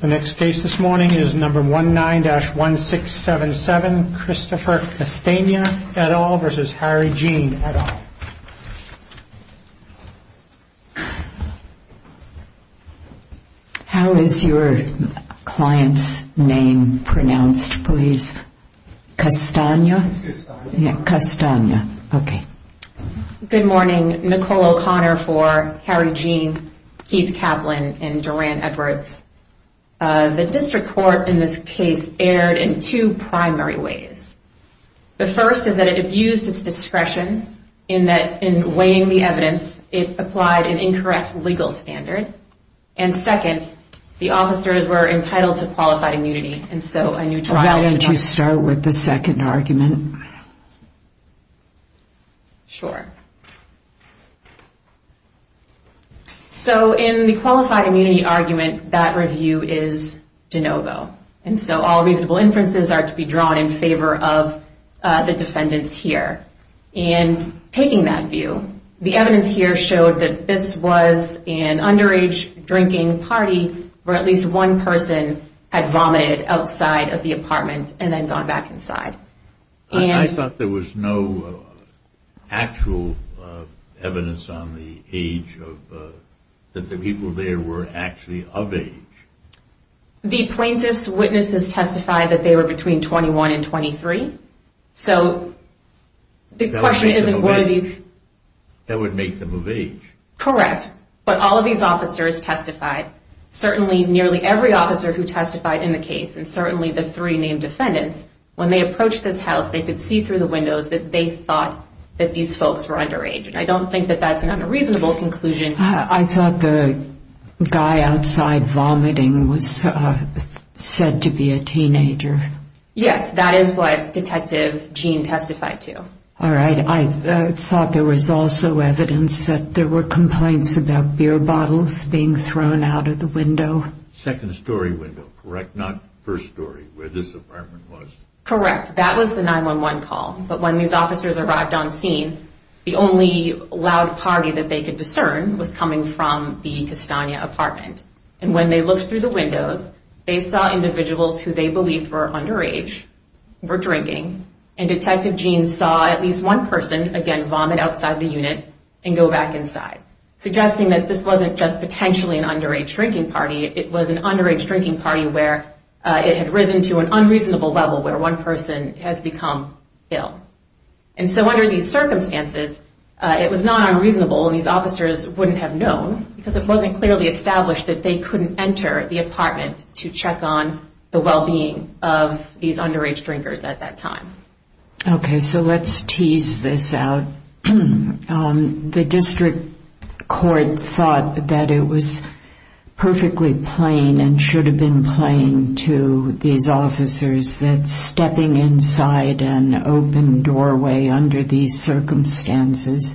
The next case this morning is number 19-1677, Christopher Castagna et al. versus Harry Jean et al. How is your client's name pronounced, please? Castagna? Castagna. Okay. Good morning. Nicole O'Connor for Harry Jean, Keith Kaplan, and Duran Edwards. The district court in this case erred in two primary ways. The first is that it abused its discretion in that in weighing the evidence, it applied an incorrect legal standard. And second, the officers were entitled to qualified immunity. Why don't you start with the second argument? Sure. So in the qualified immunity argument, that review is de novo. And so all reasonable inferences are to be drawn in favor of the defendants here. And taking that view, the evidence here showed that this was an underage drinking party where at least one person had vomited outside of the apartment and then gone back inside. I thought there was no actual evidence on the age that the people there were actually of age. The plaintiff's witnesses testified that they were between 21 and 23. So the question isn't whether these... That would make them of age. Correct. But all of these officers testified, certainly nearly every officer who testified in the case, and certainly the three named defendants, when they approached this house, they could see through the windows that they thought that these folks were underage. And I don't think that that's an unreasonable conclusion. I thought the guy outside vomiting was said to be a teenager. Yes, that is what Detective Jean testified to. All right. I thought there was also evidence that there were complaints about beer bottles being thrown out of the window. Second story window, correct? Not first story, where this apartment was. Correct. That was the 911 call. But when these officers arrived on scene, the only loud party that they could discern was coming from the Castagna apartment. And when they looked through the windows, they saw individuals who they believed were underage were drinking. And Detective Jean saw at least one person, again, vomit outside the unit and go back inside, suggesting that this wasn't just potentially an underage drinking party. It was an underage drinking party where it had risen to an unreasonable level where one person has become ill. And so under these circumstances, it was not unreasonable, and these officers wouldn't have known, because it wasn't clearly established that they couldn't enter the apartment to check on the well-being of these underage drinkers at that time. Okay. So let's tease this out. The district court thought that it was perfectly plain and should have been plain to these officers that stepping inside an open doorway under these circumstances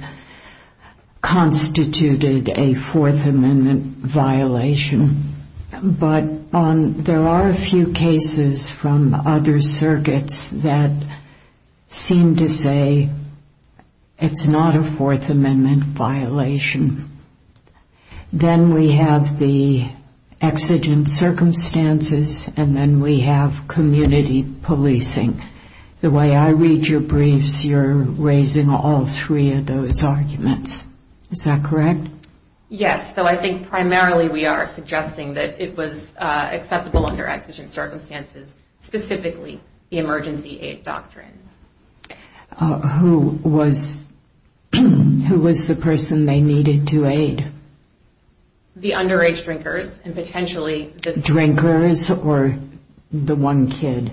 constituted a Fourth Amendment violation. But there are a few cases from other circuits that seem to say it's not a Fourth Amendment violation. Then we have the exigent circumstances, and then we have community policing. The way I read your briefs, you're raising all three of those arguments. Is that correct? Yes, though I think primarily we are suggesting that it was acceptable under exigent circumstances, specifically the emergency aid doctrine. Who was the person they needed to aid? The underage drinkers, and potentially the... Drinkers or the one kid?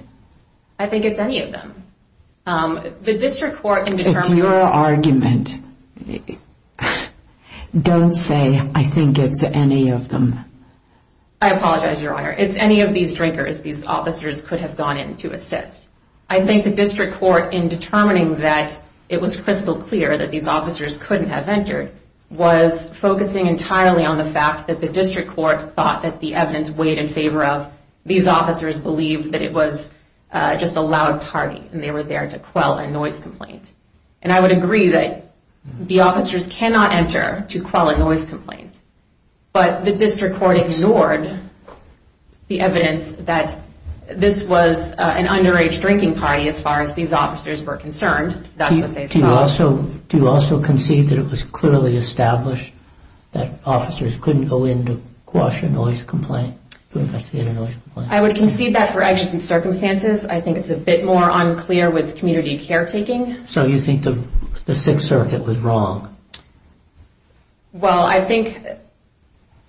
I think it's any of them. The district court can determine... It's your argument. Don't say, I think it's any of them. I apologize, Your Honor. It's any of these drinkers these officers could have gone in to assist. I think the district court, in determining that it was crystal clear that these officers couldn't have entered, was focusing entirely on the fact that the district court thought that the evidence weighed in favor of these officers believed that it was just a loud party, and they were there to quell a noise complaint. I would agree that the officers cannot enter to quell a noise complaint, but the district court ignored the evidence that this was an underage drinking party, as far as these officers were concerned. Do you also concede that it was clearly established that officers couldn't go in to quash a noise complaint? I would concede that for actions and circumstances. I think it's a bit more unclear with community caretaking. So you think the Sixth Circuit was wrong? Well, I think...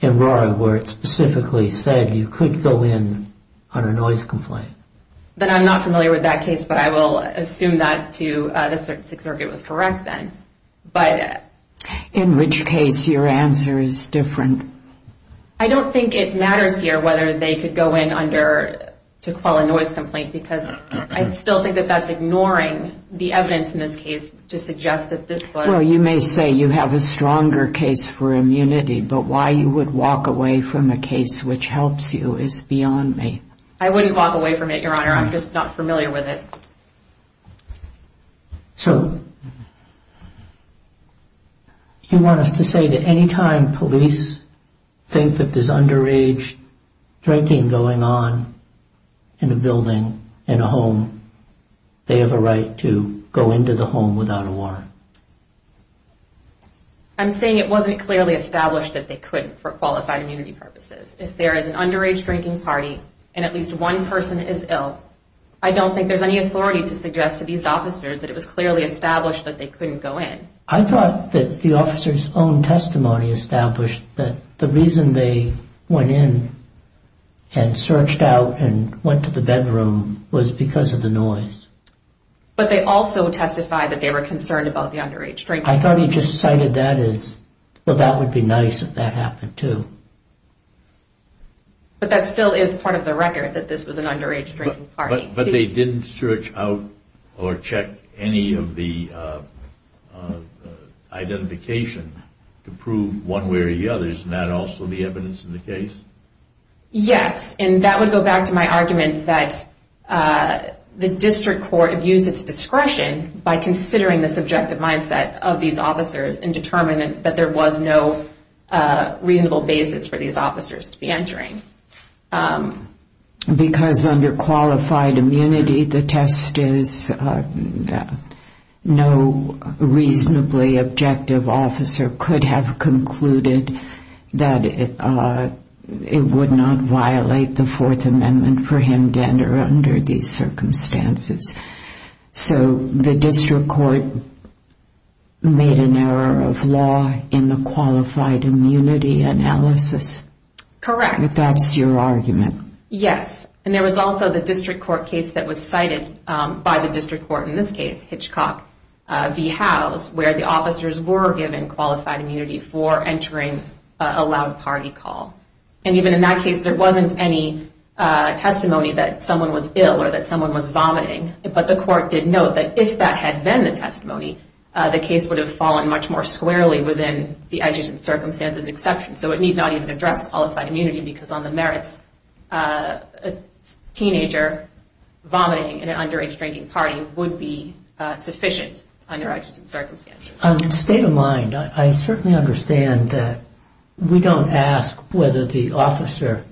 In Rory, where it specifically said you could go in on a noise complaint. Then I'm not familiar with that case, but I will assume that the Sixth Circuit was correct then. In which case your answer is different? I don't think it matters here whether they could go in to quell a noise complaint, because I still think that that's ignoring the evidence in this case to suggest that this was... Well, you may say you have a stronger case for immunity, but why you would walk away from a case which helps you is beyond me. I wouldn't walk away from it, Your Honor. I'm just not familiar with it. So... You want us to say that any time police think that there's underage drinking going on in a building, in a home, they have a right to go into the home without a warrant? I'm saying it wasn't clearly established that they couldn't for qualified immunity purposes. If there is an underage drinking party, and at least one person is ill, I don't think there's any authority to suggest to these officers that it was clearly established that they couldn't go in. I thought that the officer's own testimony established that the reason they went in and searched out and went to the bedroom was because of the noise. But they also testified that they were concerned about the underage drinking party. I thought he just cited that as, well, that would be nice if that happened too. But that still is part of the record, that this was an underage drinking party. But they didn't search out or check any of the identification to prove one way or the other. Isn't that also the evidence in the case? Yes, and that would go back to my argument that the district court abused its discretion by considering the subjective mindset of these officers and determined that there was no reasonable basis for these officers to be entering. Because under qualified immunity, the test is no reasonably objective officer could have concluded that it would not violate the Fourth Amendment for him to enter under these circumstances. So the district court made an error of law in the qualified immunity analysis? Correct. But that's your argument? Yes, and there was also the district court case that was cited by the district court, in this case, Hitchcock v. Howes, where the officers were given qualified immunity for entering a loud party call. And even in that case, there wasn't any testimony that someone was ill or that someone was vomiting. But the court did note that if that had been the testimony, the case would have fallen much more squarely within the exigent circumstances exception. So it need not even address qualified immunity because on the merits, a teenager vomiting in an underage drinking party would be sufficient under exigent circumstances. On the state of mind, I certainly understand that we don't ask whether the officer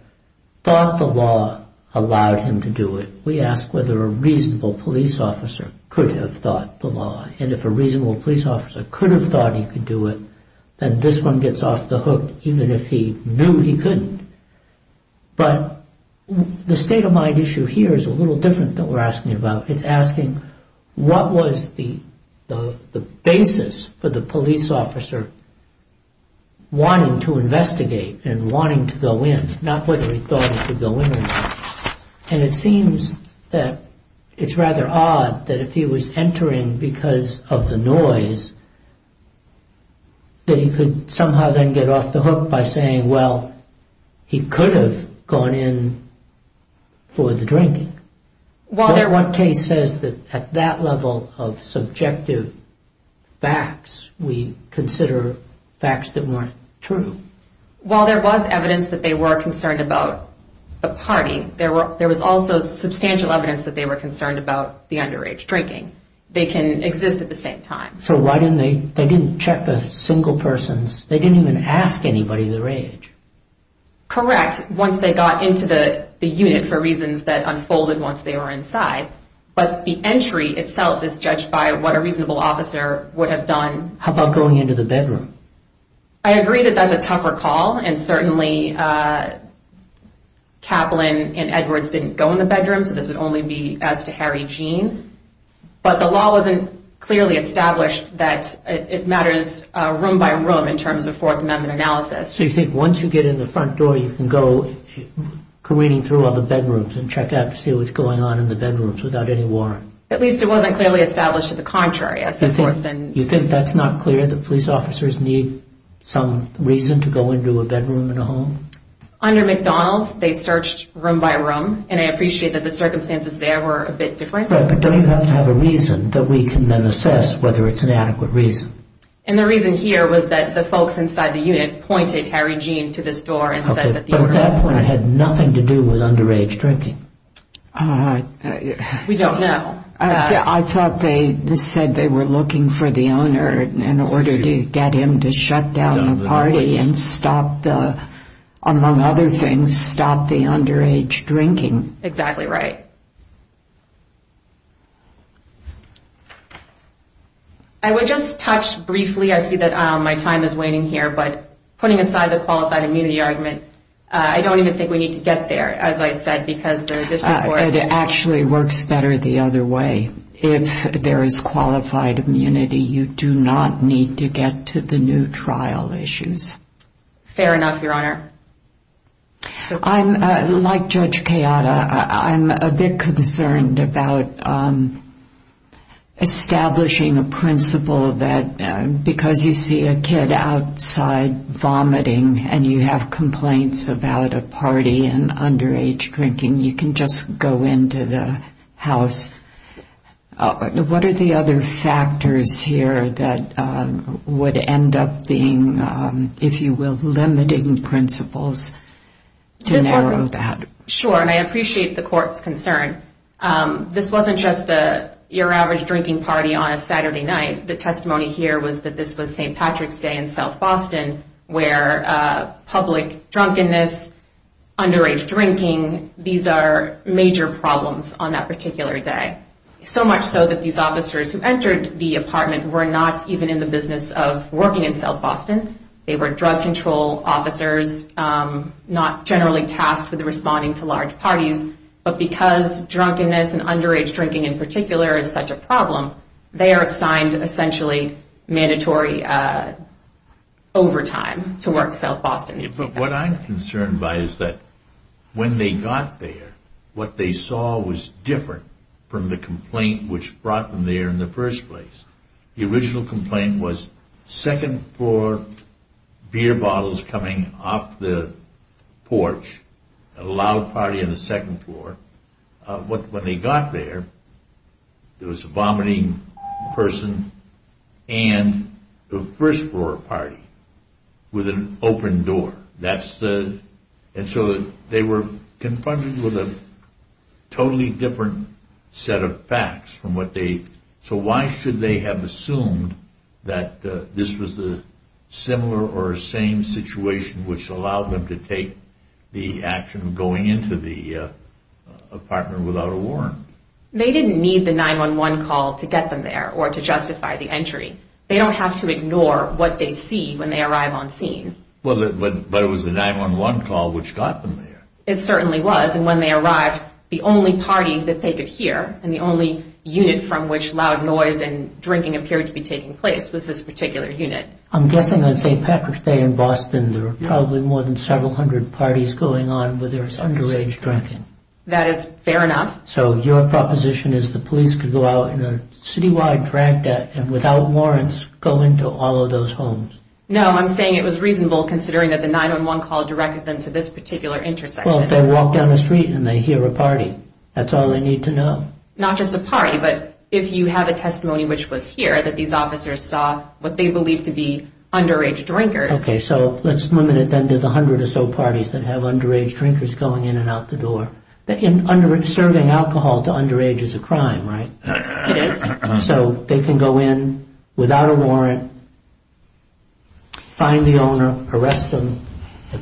thought the law allowed him to do it. We ask whether a reasonable police officer could have thought the law. And if a reasonable police officer could have thought he could do it, then this one gets off the hook even if he knew he couldn't. But the state of mind issue here is a little different than we're asking about. It's asking what was the basis for the police officer wanting to investigate and wanting to go in, not whether he thought he could go in. And it seems that it's rather odd that if he was entering because of the noise, that he could somehow then get off the hook by saying, well, he could have gone in for the drinking. What case says that at that level of subjective facts, we consider facts that weren't true? Well, there was evidence that they were concerned about the party. There was also substantial evidence that they were concerned about the underage drinking. They can exist at the same time. So why didn't they check the single persons? They didn't even ask anybody their age. Correct. Once they got into the unit for reasons that unfolded once they were inside. But the entry itself is judged by what a reasonable officer would have done. How about going into the bedroom? I agree that that's a tougher call. And certainly Kaplan and Edwards didn't go in the bedroom. So this would only be as to Harry Jean. But the law wasn't clearly established that it matters room by room in terms of Fourth Amendment analysis. So you think once you get in the front door, you can go careening through all the bedrooms and check out to see what's going on in the bedrooms without any warrant? At least it wasn't clearly established to the contrary. You think that's not clear that police officers need some reason to go into a bedroom in a home? Under McDonald's, they searched room by room. And I appreciate that the circumstances there were a bit different. But don't you have to have a reason that we can then assess whether it's an adequate reason? And the reason here was that the folks inside the unit pointed Harry Jean to this door. But at that point, it had nothing to do with underage drinking. We don't know. I thought they said they were looking for the owner in order to get him to shut down the party and among other things, stop the underage drinking. Exactly right. I would just touch briefly. I see that my time is waning here. But putting aside the qualified immunity argument, I don't even think we need to get there, as I said, because the district court— It actually works better the other way. If there is qualified immunity, you do not need to get to the new trial issues. Fair enough, Your Honor. Like Judge Kayada, I'm a bit concerned about establishing a principle that because you see a kid outside vomiting and you have complaints about a party and underage drinking, you can just go into the house. What are the other factors here that would end up being, if you will, limiting principles to narrow that? Sure, and I appreciate the court's concern. This wasn't just your average drinking party on a Saturday night. The testimony here was that this was St. Patrick's Day in South Boston, where public drunkenness, underage drinking, these are major problems on that particular day. So much so that these officers who entered the apartment were not even in the business of working in South Boston. They were drug control officers, not generally tasked with responding to large parties. But because drunkenness and underage drinking in particular is such a problem, they are assigned essentially mandatory overtime to work South Boston. But what I'm concerned by is that when they got there, what they saw was different from the complaint which brought them there in the first place. The original complaint was second floor beer bottles coming off the porch, a loud party on the second floor. When they got there, there was a vomiting person and the first floor party with an open door. And so they were confronted with a totally different set of facts. So why should they have assumed that this was the similar or same situation which allowed them to take the action of going into the apartment without a warrant? They didn't need the 911 call to get them there or to justify the entry. They don't have to ignore what they see when they arrive on scene. But it was the 911 call which got them there. It certainly was. And when they arrived, the only party that they could hear and the only unit from which loud noise and drinking appeared to be taking place was this particular unit. I'm guessing on St. Patrick's Day in Boston, there were probably more than several hundred parties going on where there was underage drinking. That is fair enough. So your proposition is the police could go out in a citywide drag deck and without warrants go into all of those homes? No, I'm saying it was reasonable considering that the 911 call directed them to this particular intersection. Well, if they walk down the street and they hear a party, that's all they need to know? Not just a party, but if you have a testimony which was here, that these officers saw what they believed to be underage drinkers. Okay, so let's limit it then to the hundred or so parties that have underage drinkers going in and out the door. Serving alcohol to underage is a crime, right? It is. So they can go in without a warrant, find the owner, arrest them,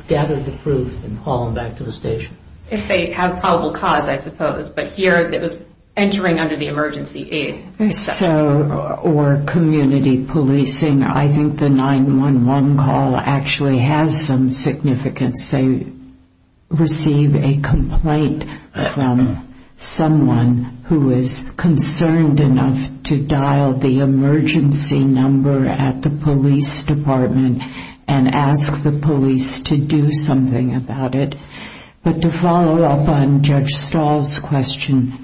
gather the proof, and haul them back to the station? If they have probable cause, I suppose. But here it was entering under the emergency aid. So, or community policing, I think the 911 call actually has some significance. They receive a complaint from someone who is concerned enough to dial the emergency number at the police department and ask the police to do something about it. But to follow up on Judge Stahl's question,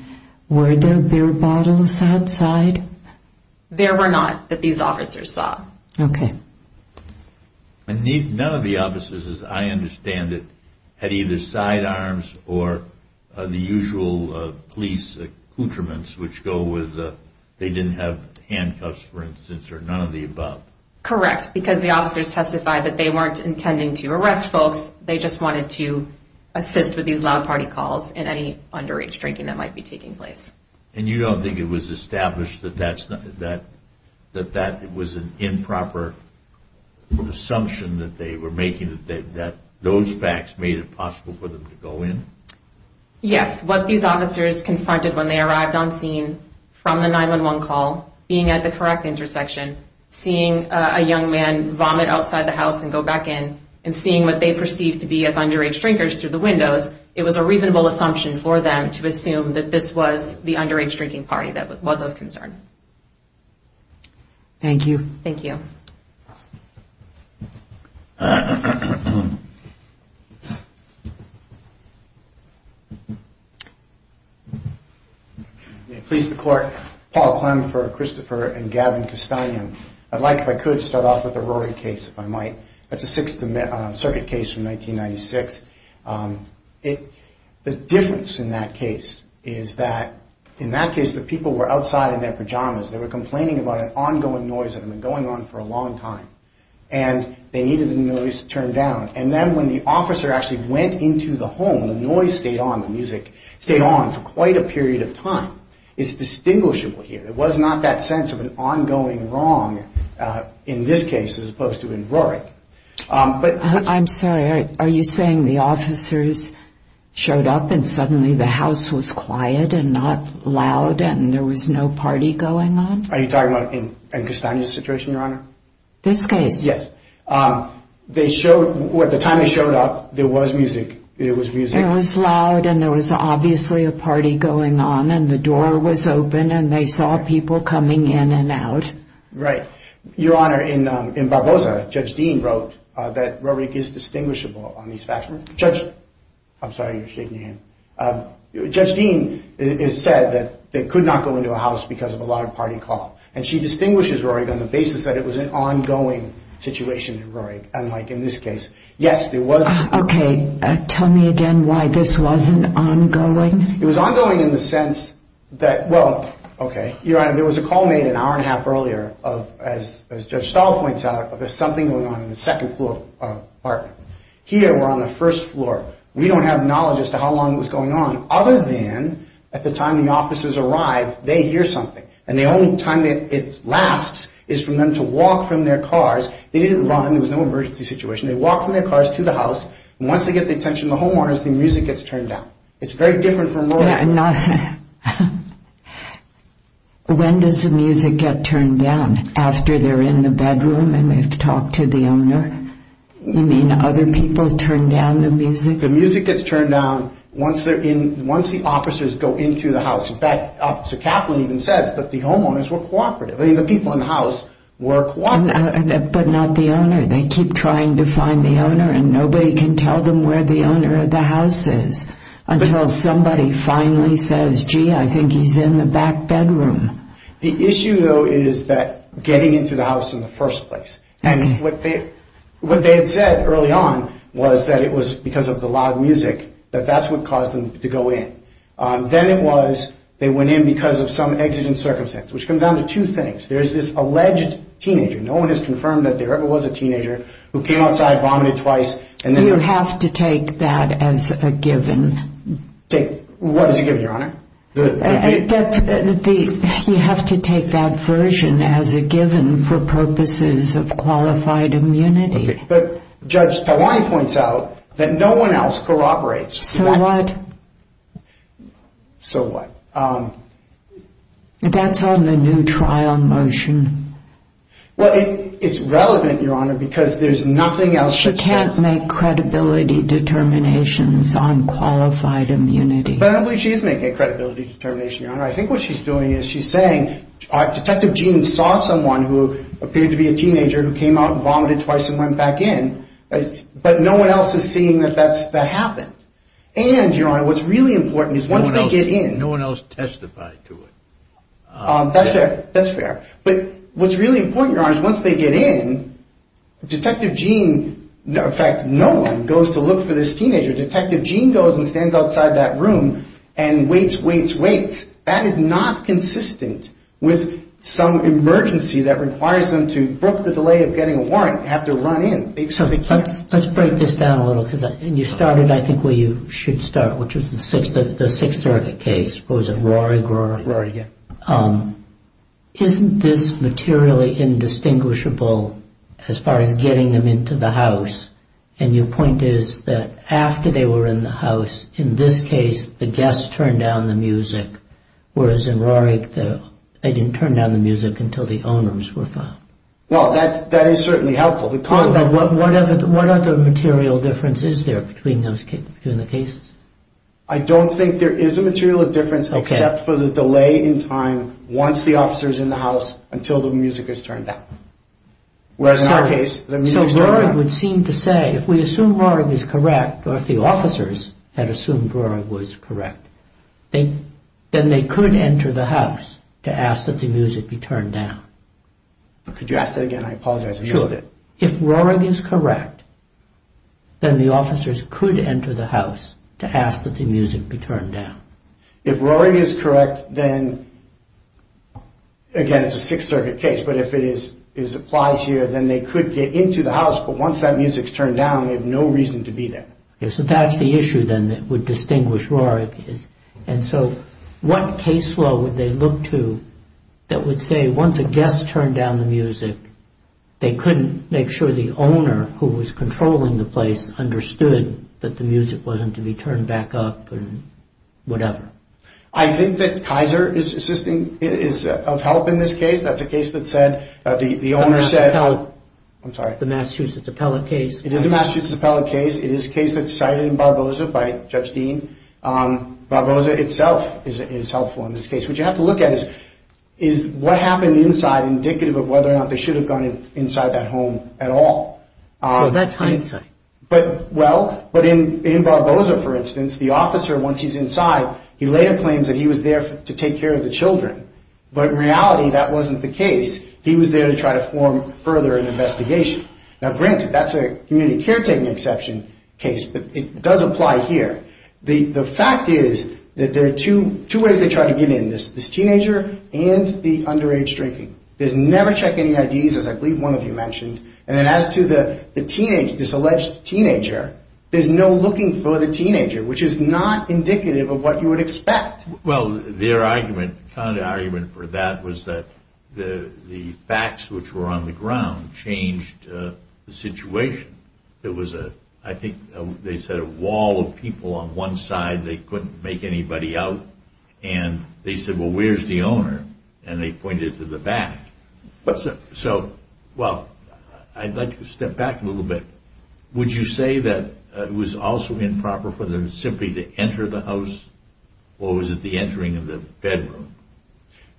were there beer bottles outside? There were not, that these officers saw. Okay. And none of the officers, as I understand it, had either sidearms or the usual police accoutrements, which go with they didn't have handcuffs, for instance, or none of the above. Correct, because the officers testified that they weren't intending to arrest folks. They just wanted to assist with these loud party calls and any underage drinking that might be taking place. And you don't think it was established that that was an improper assumption that they were making, that those facts made it possible for them to go in? Yes. What these officers confronted when they arrived on scene from the 911 call, being at the correct intersection, seeing a young man vomit outside the house and go back in, and seeing what they perceived to be as underage drinkers through the windows, it was a reasonable assumption for them to assume that this was the underage drinking party that was of concern. Thank you. Thank you. May it please the Court. Paul Clem for Christopher and Gavin Castanien. I'd like, if I could, to start off with the Rory case, if I might. That's a Sixth Circuit case from 1996. The difference in that case is that in that case the people were outside in their pajamas. They were complaining about an ongoing noise that had been going on for a long time. And they needed the noise turned down. And then when the officer actually went into the home, the noise stayed on, the music stayed on for quite a period of time. It's distinguishable here. There was not that sense of an ongoing wrong in this case as opposed to in Rory. I'm sorry. Are you saying the officers showed up and suddenly the house was quiet and not loud and there was no party going on? Are you talking about in Castanien's situation, Your Honor? This case? Yes. They showed, at the time they showed up, there was music. There was music. It was loud and there was obviously a party going on. And the door was open and they saw people coming in and out. Right. Your Honor, in Barbosa, Judge Dean wrote that Rory is distinguishable on these facts. Judge, I'm sorry, you're shaking your hand. Judge Dean has said that they could not go into a house because of a loud party call. And she distinguishes Rory on the basis that it was an ongoing situation in Rory, unlike in this case. Yes, there was. Okay. Tell me again why this wasn't ongoing. It was ongoing in the sense that, well, okay, Your Honor, there was a call made an hour and a half earlier of, as Judge Stahl points out, of something going on in the second floor apartment. Here we're on the first floor. We don't have knowledge as to how long it was going on, other than at the time the officers arrive, they hear something. And the only time it lasts is for them to walk from their cars. They didn't run. There was no emergency situation. They walked from their cars to the house. Once they get the attention of the homeowners, the music gets turned down. It's very different from Rory. When does the music get turned down? After they're in the bedroom and they've talked to the owner? You mean other people turn down the music? The music gets turned down once the officers go into the house. In fact, Officer Kaplan even says that the homeowners were cooperative. I mean, the people in the house were cooperative. But not the owner. They keep trying to find the owner, and nobody can tell them where the owner of the house is until somebody finally says, gee, I think he's in the back bedroom. The issue, though, is that getting into the house in the first place. And what they had said early on was that it was because of the loud music that that's what caused them to go in. Then it was they went in because of some exigent circumstance, which comes down to two things. There's this alleged teenager. No one has confirmed that there ever was a teenager who came outside, vomited twice, and then they're out. You have to take that as a given. What is a given, Your Honor? You have to take that version as a given for purposes of qualified immunity. But Judge Tawani points out that no one else corroborates. So what? So what? That's on the new trial motion. Well, it's relevant, Your Honor, because there's nothing else that says. She can't make credibility determinations on qualified immunity. But I believe she is making a credibility determination, Your Honor. I think what she's doing is she's saying, Detective Gene saw someone who appeared to be a teenager who came out, vomited twice, and went back in. But no one else is seeing that that happened. And, Your Honor, what's really important is once they get in. No one else testified to it. That's fair. But what's really important, Your Honor, is once they get in, Detective Gene, in fact, no one goes to look for this teenager. Detective Gene goes and stands outside that room and waits, waits, waits. That is not consistent with some emergency that requires them to book the delay of getting a warrant and have to run in. So let's break this down a little. And you started, I think, where you should start, which was the Sixth Circuit case. Was it Rory? Rory, yeah. Isn't this materially indistinguishable as far as getting them into the house? And your point is that after they were in the house, in this case, the guests turned down the music, whereas in Rory, they didn't turn down the music until the owners were found. Well, that is certainly helpful. But what other material difference is there between the cases? I don't think there is a material difference except for the delay in time once the officer is in the house until the music is turned down. Whereas in our case, the music is turned down. Rory would seem to say if we assume Rory is correct or if the officers had assumed Rory was correct, then they could enter the house to ask that the music be turned down. Could you ask that again? I apologize. Sure. If Rory is correct, then the officers could enter the house to ask that the music be turned down. If Rory is correct, then, again, it's a Sixth Circuit case, but if it applies here, then they could get into the house, but once that music is turned down, they have no reason to be there. So that's the issue, then, that would distinguish Rory. And so what case law would they look to that would say once a guest turned down the music, they couldn't make sure the owner who was controlling the place understood that the music wasn't to be turned back up and whatever? I think that Kaiser is of help in this case. That's a case that said the owner said the Massachusetts appellate case. It is a Massachusetts appellate case. It is a case that's cited in Barboza by Judge Dean. Barboza itself is helpful in this case. What you have to look at is what happened inside indicative of whether or not they should have gone inside that home at all. Well, that's hindsight. Well, but in Barboza, for instance, the officer, once he's inside, he later claims that he was there to take care of the children, but in reality, that wasn't the case. He was there to try to form further an investigation. Now, granted, that's a community caretaking exception case, but it does apply here. The fact is that there are two ways they try to get in, this teenager and the underage drinking. They never check any IDs, as I believe one of you mentioned, and then as to this alleged teenager, there's no looking for the teenager, which is not indicative of what you would expect. Well, their argument, the kind of argument for that was that the facts which were on the ground changed the situation. It was a, I think they said a wall of people on one side, they couldn't make anybody out, and they said, well, where's the owner? And they pointed to the back. So, well, I'd like to step back a little bit. Would you say that it was also improper for them simply to enter the house or was it the entering of the bedroom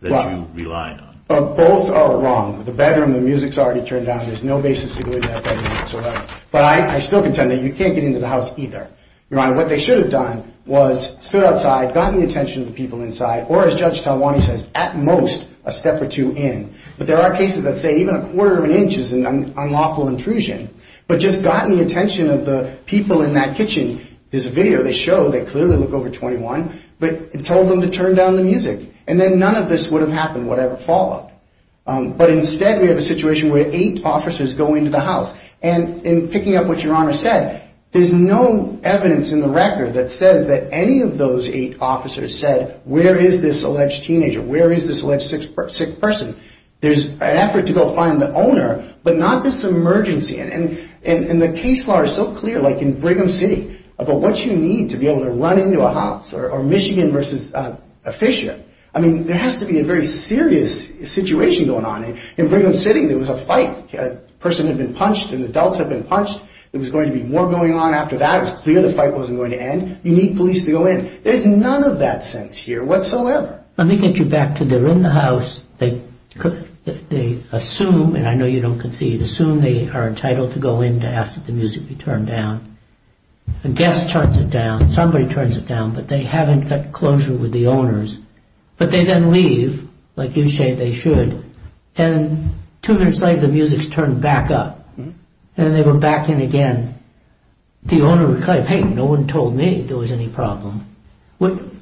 that you relied on? Both are wrong. The bedroom, the music's already turned down, there's no basis to go into that bedroom whatsoever. But I still contend that you can't get into the house either. Your Honor, what they should have done was stood outside, gotten the attention of the people inside, or as Judge Talwani says, at most a step or two in. But there are cases that say even a quarter of an inch is an unlawful intrusion. But just gotten the attention of the people in that kitchen, this video they show, they clearly look over 21, but told them to turn down the music. And then none of this would have happened whatever followed. But instead we have a situation where eight officers go into the house. And in picking up what Your Honor said, there's no evidence in the record that says that any of those eight officers said where is this alleged teenager, where is this alleged sick person. There's an effort to go find the owner, but not this emergency. And the case law is so clear, like in Brigham City, about what you need to be able to run into a house, or Michigan versus Fisher. I mean, there has to be a very serious situation going on. In Brigham City there was a fight. A person had been punched, an adult had been punched. There was going to be more going on after that. It was clear the fight wasn't going to end. You need police to go in. There's none of that sense here whatsoever. Let me get you back to they're in the house. They assume, and I know you don't concede, they assume they are entitled to go in to ask that the music be turned down. A guest turns it down, somebody turns it down, but they haven't got closure with the owners. But they then leave, like you say they should, and two minutes later the music's turned back up. And they were back in again. The owner replied, hey, no one told me there was any problem.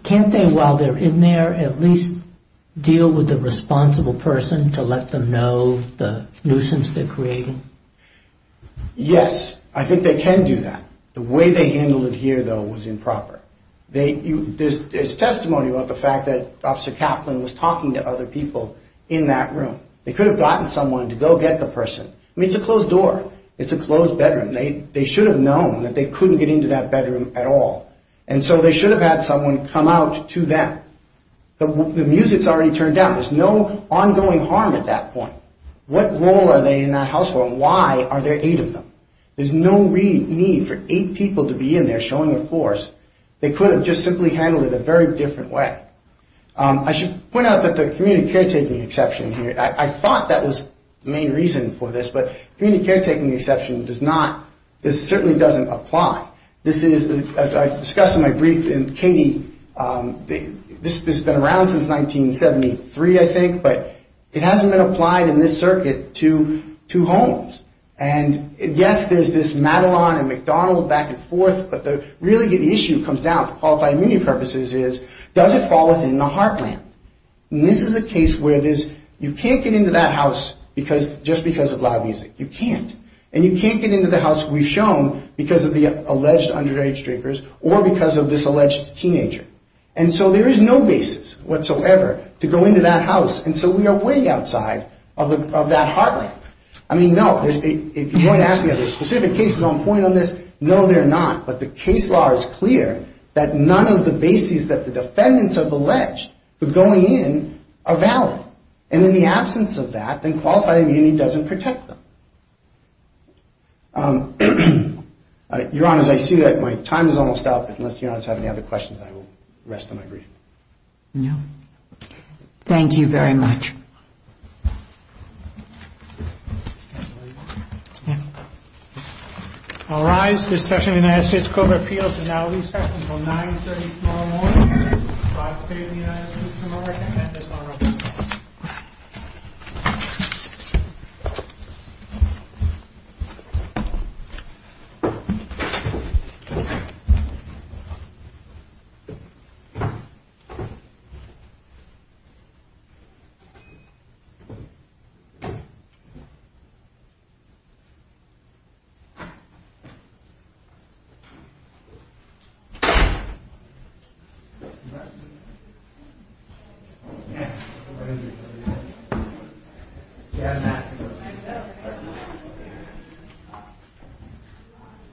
Can't they, while they're in there, at least deal with the responsible person to let them know the nuisance they're creating? Yes, I think they can do that. The way they handled it here, though, was improper. There's testimony about the fact that Officer Kaplan was talking to other people in that room. They could have gotten someone to go get the person. I mean, it's a closed door. It's a closed bedroom. They should have known that they couldn't get into that bedroom at all. And so they should have had someone come out to them. The music's already turned down. There's no ongoing harm at that point. What role are they in that house for, and why are there eight of them? There's no need for eight people to be in there showing a force. They could have just simply handled it a very different way. I should point out that the community caretaking exception here, I thought that was the main reason for this, but community caretaking exception does not, certainly doesn't apply. This is, as I discussed in my brief, and Katie, this has been around since 1973, I think, but it hasn't been applied in this circuit to homes. And, yes, there's this Madelon and McDonald back and forth, but really the issue comes down, for qualifying community purposes, is does it fall within the heartland? And this is a case where you can't get into that house just because of loud music. You can't. And you can't get into the house we've shown because of the alleged underage drinkers or because of this alleged teenager. And so there is no basis whatsoever to go into that house, and so we are way outside of that heartland. I mean, no, if you're going to ask me are there specific cases on point on this, no, there are not. But the case law is clear that none of the bases that the defendants have alleged for going in are valid. And in the absence of that, then qualifying the community doesn't protect them. Your Honor, as I see that, my time is almost up. Unless Your Honor has any other questions, I will rest on my brief. No. Thank you very much. I'll rise. This session of the United States Court of Appeals is now recessed until 9.30 tomorrow morning. Five states and the United States are recommended on record. Thank you.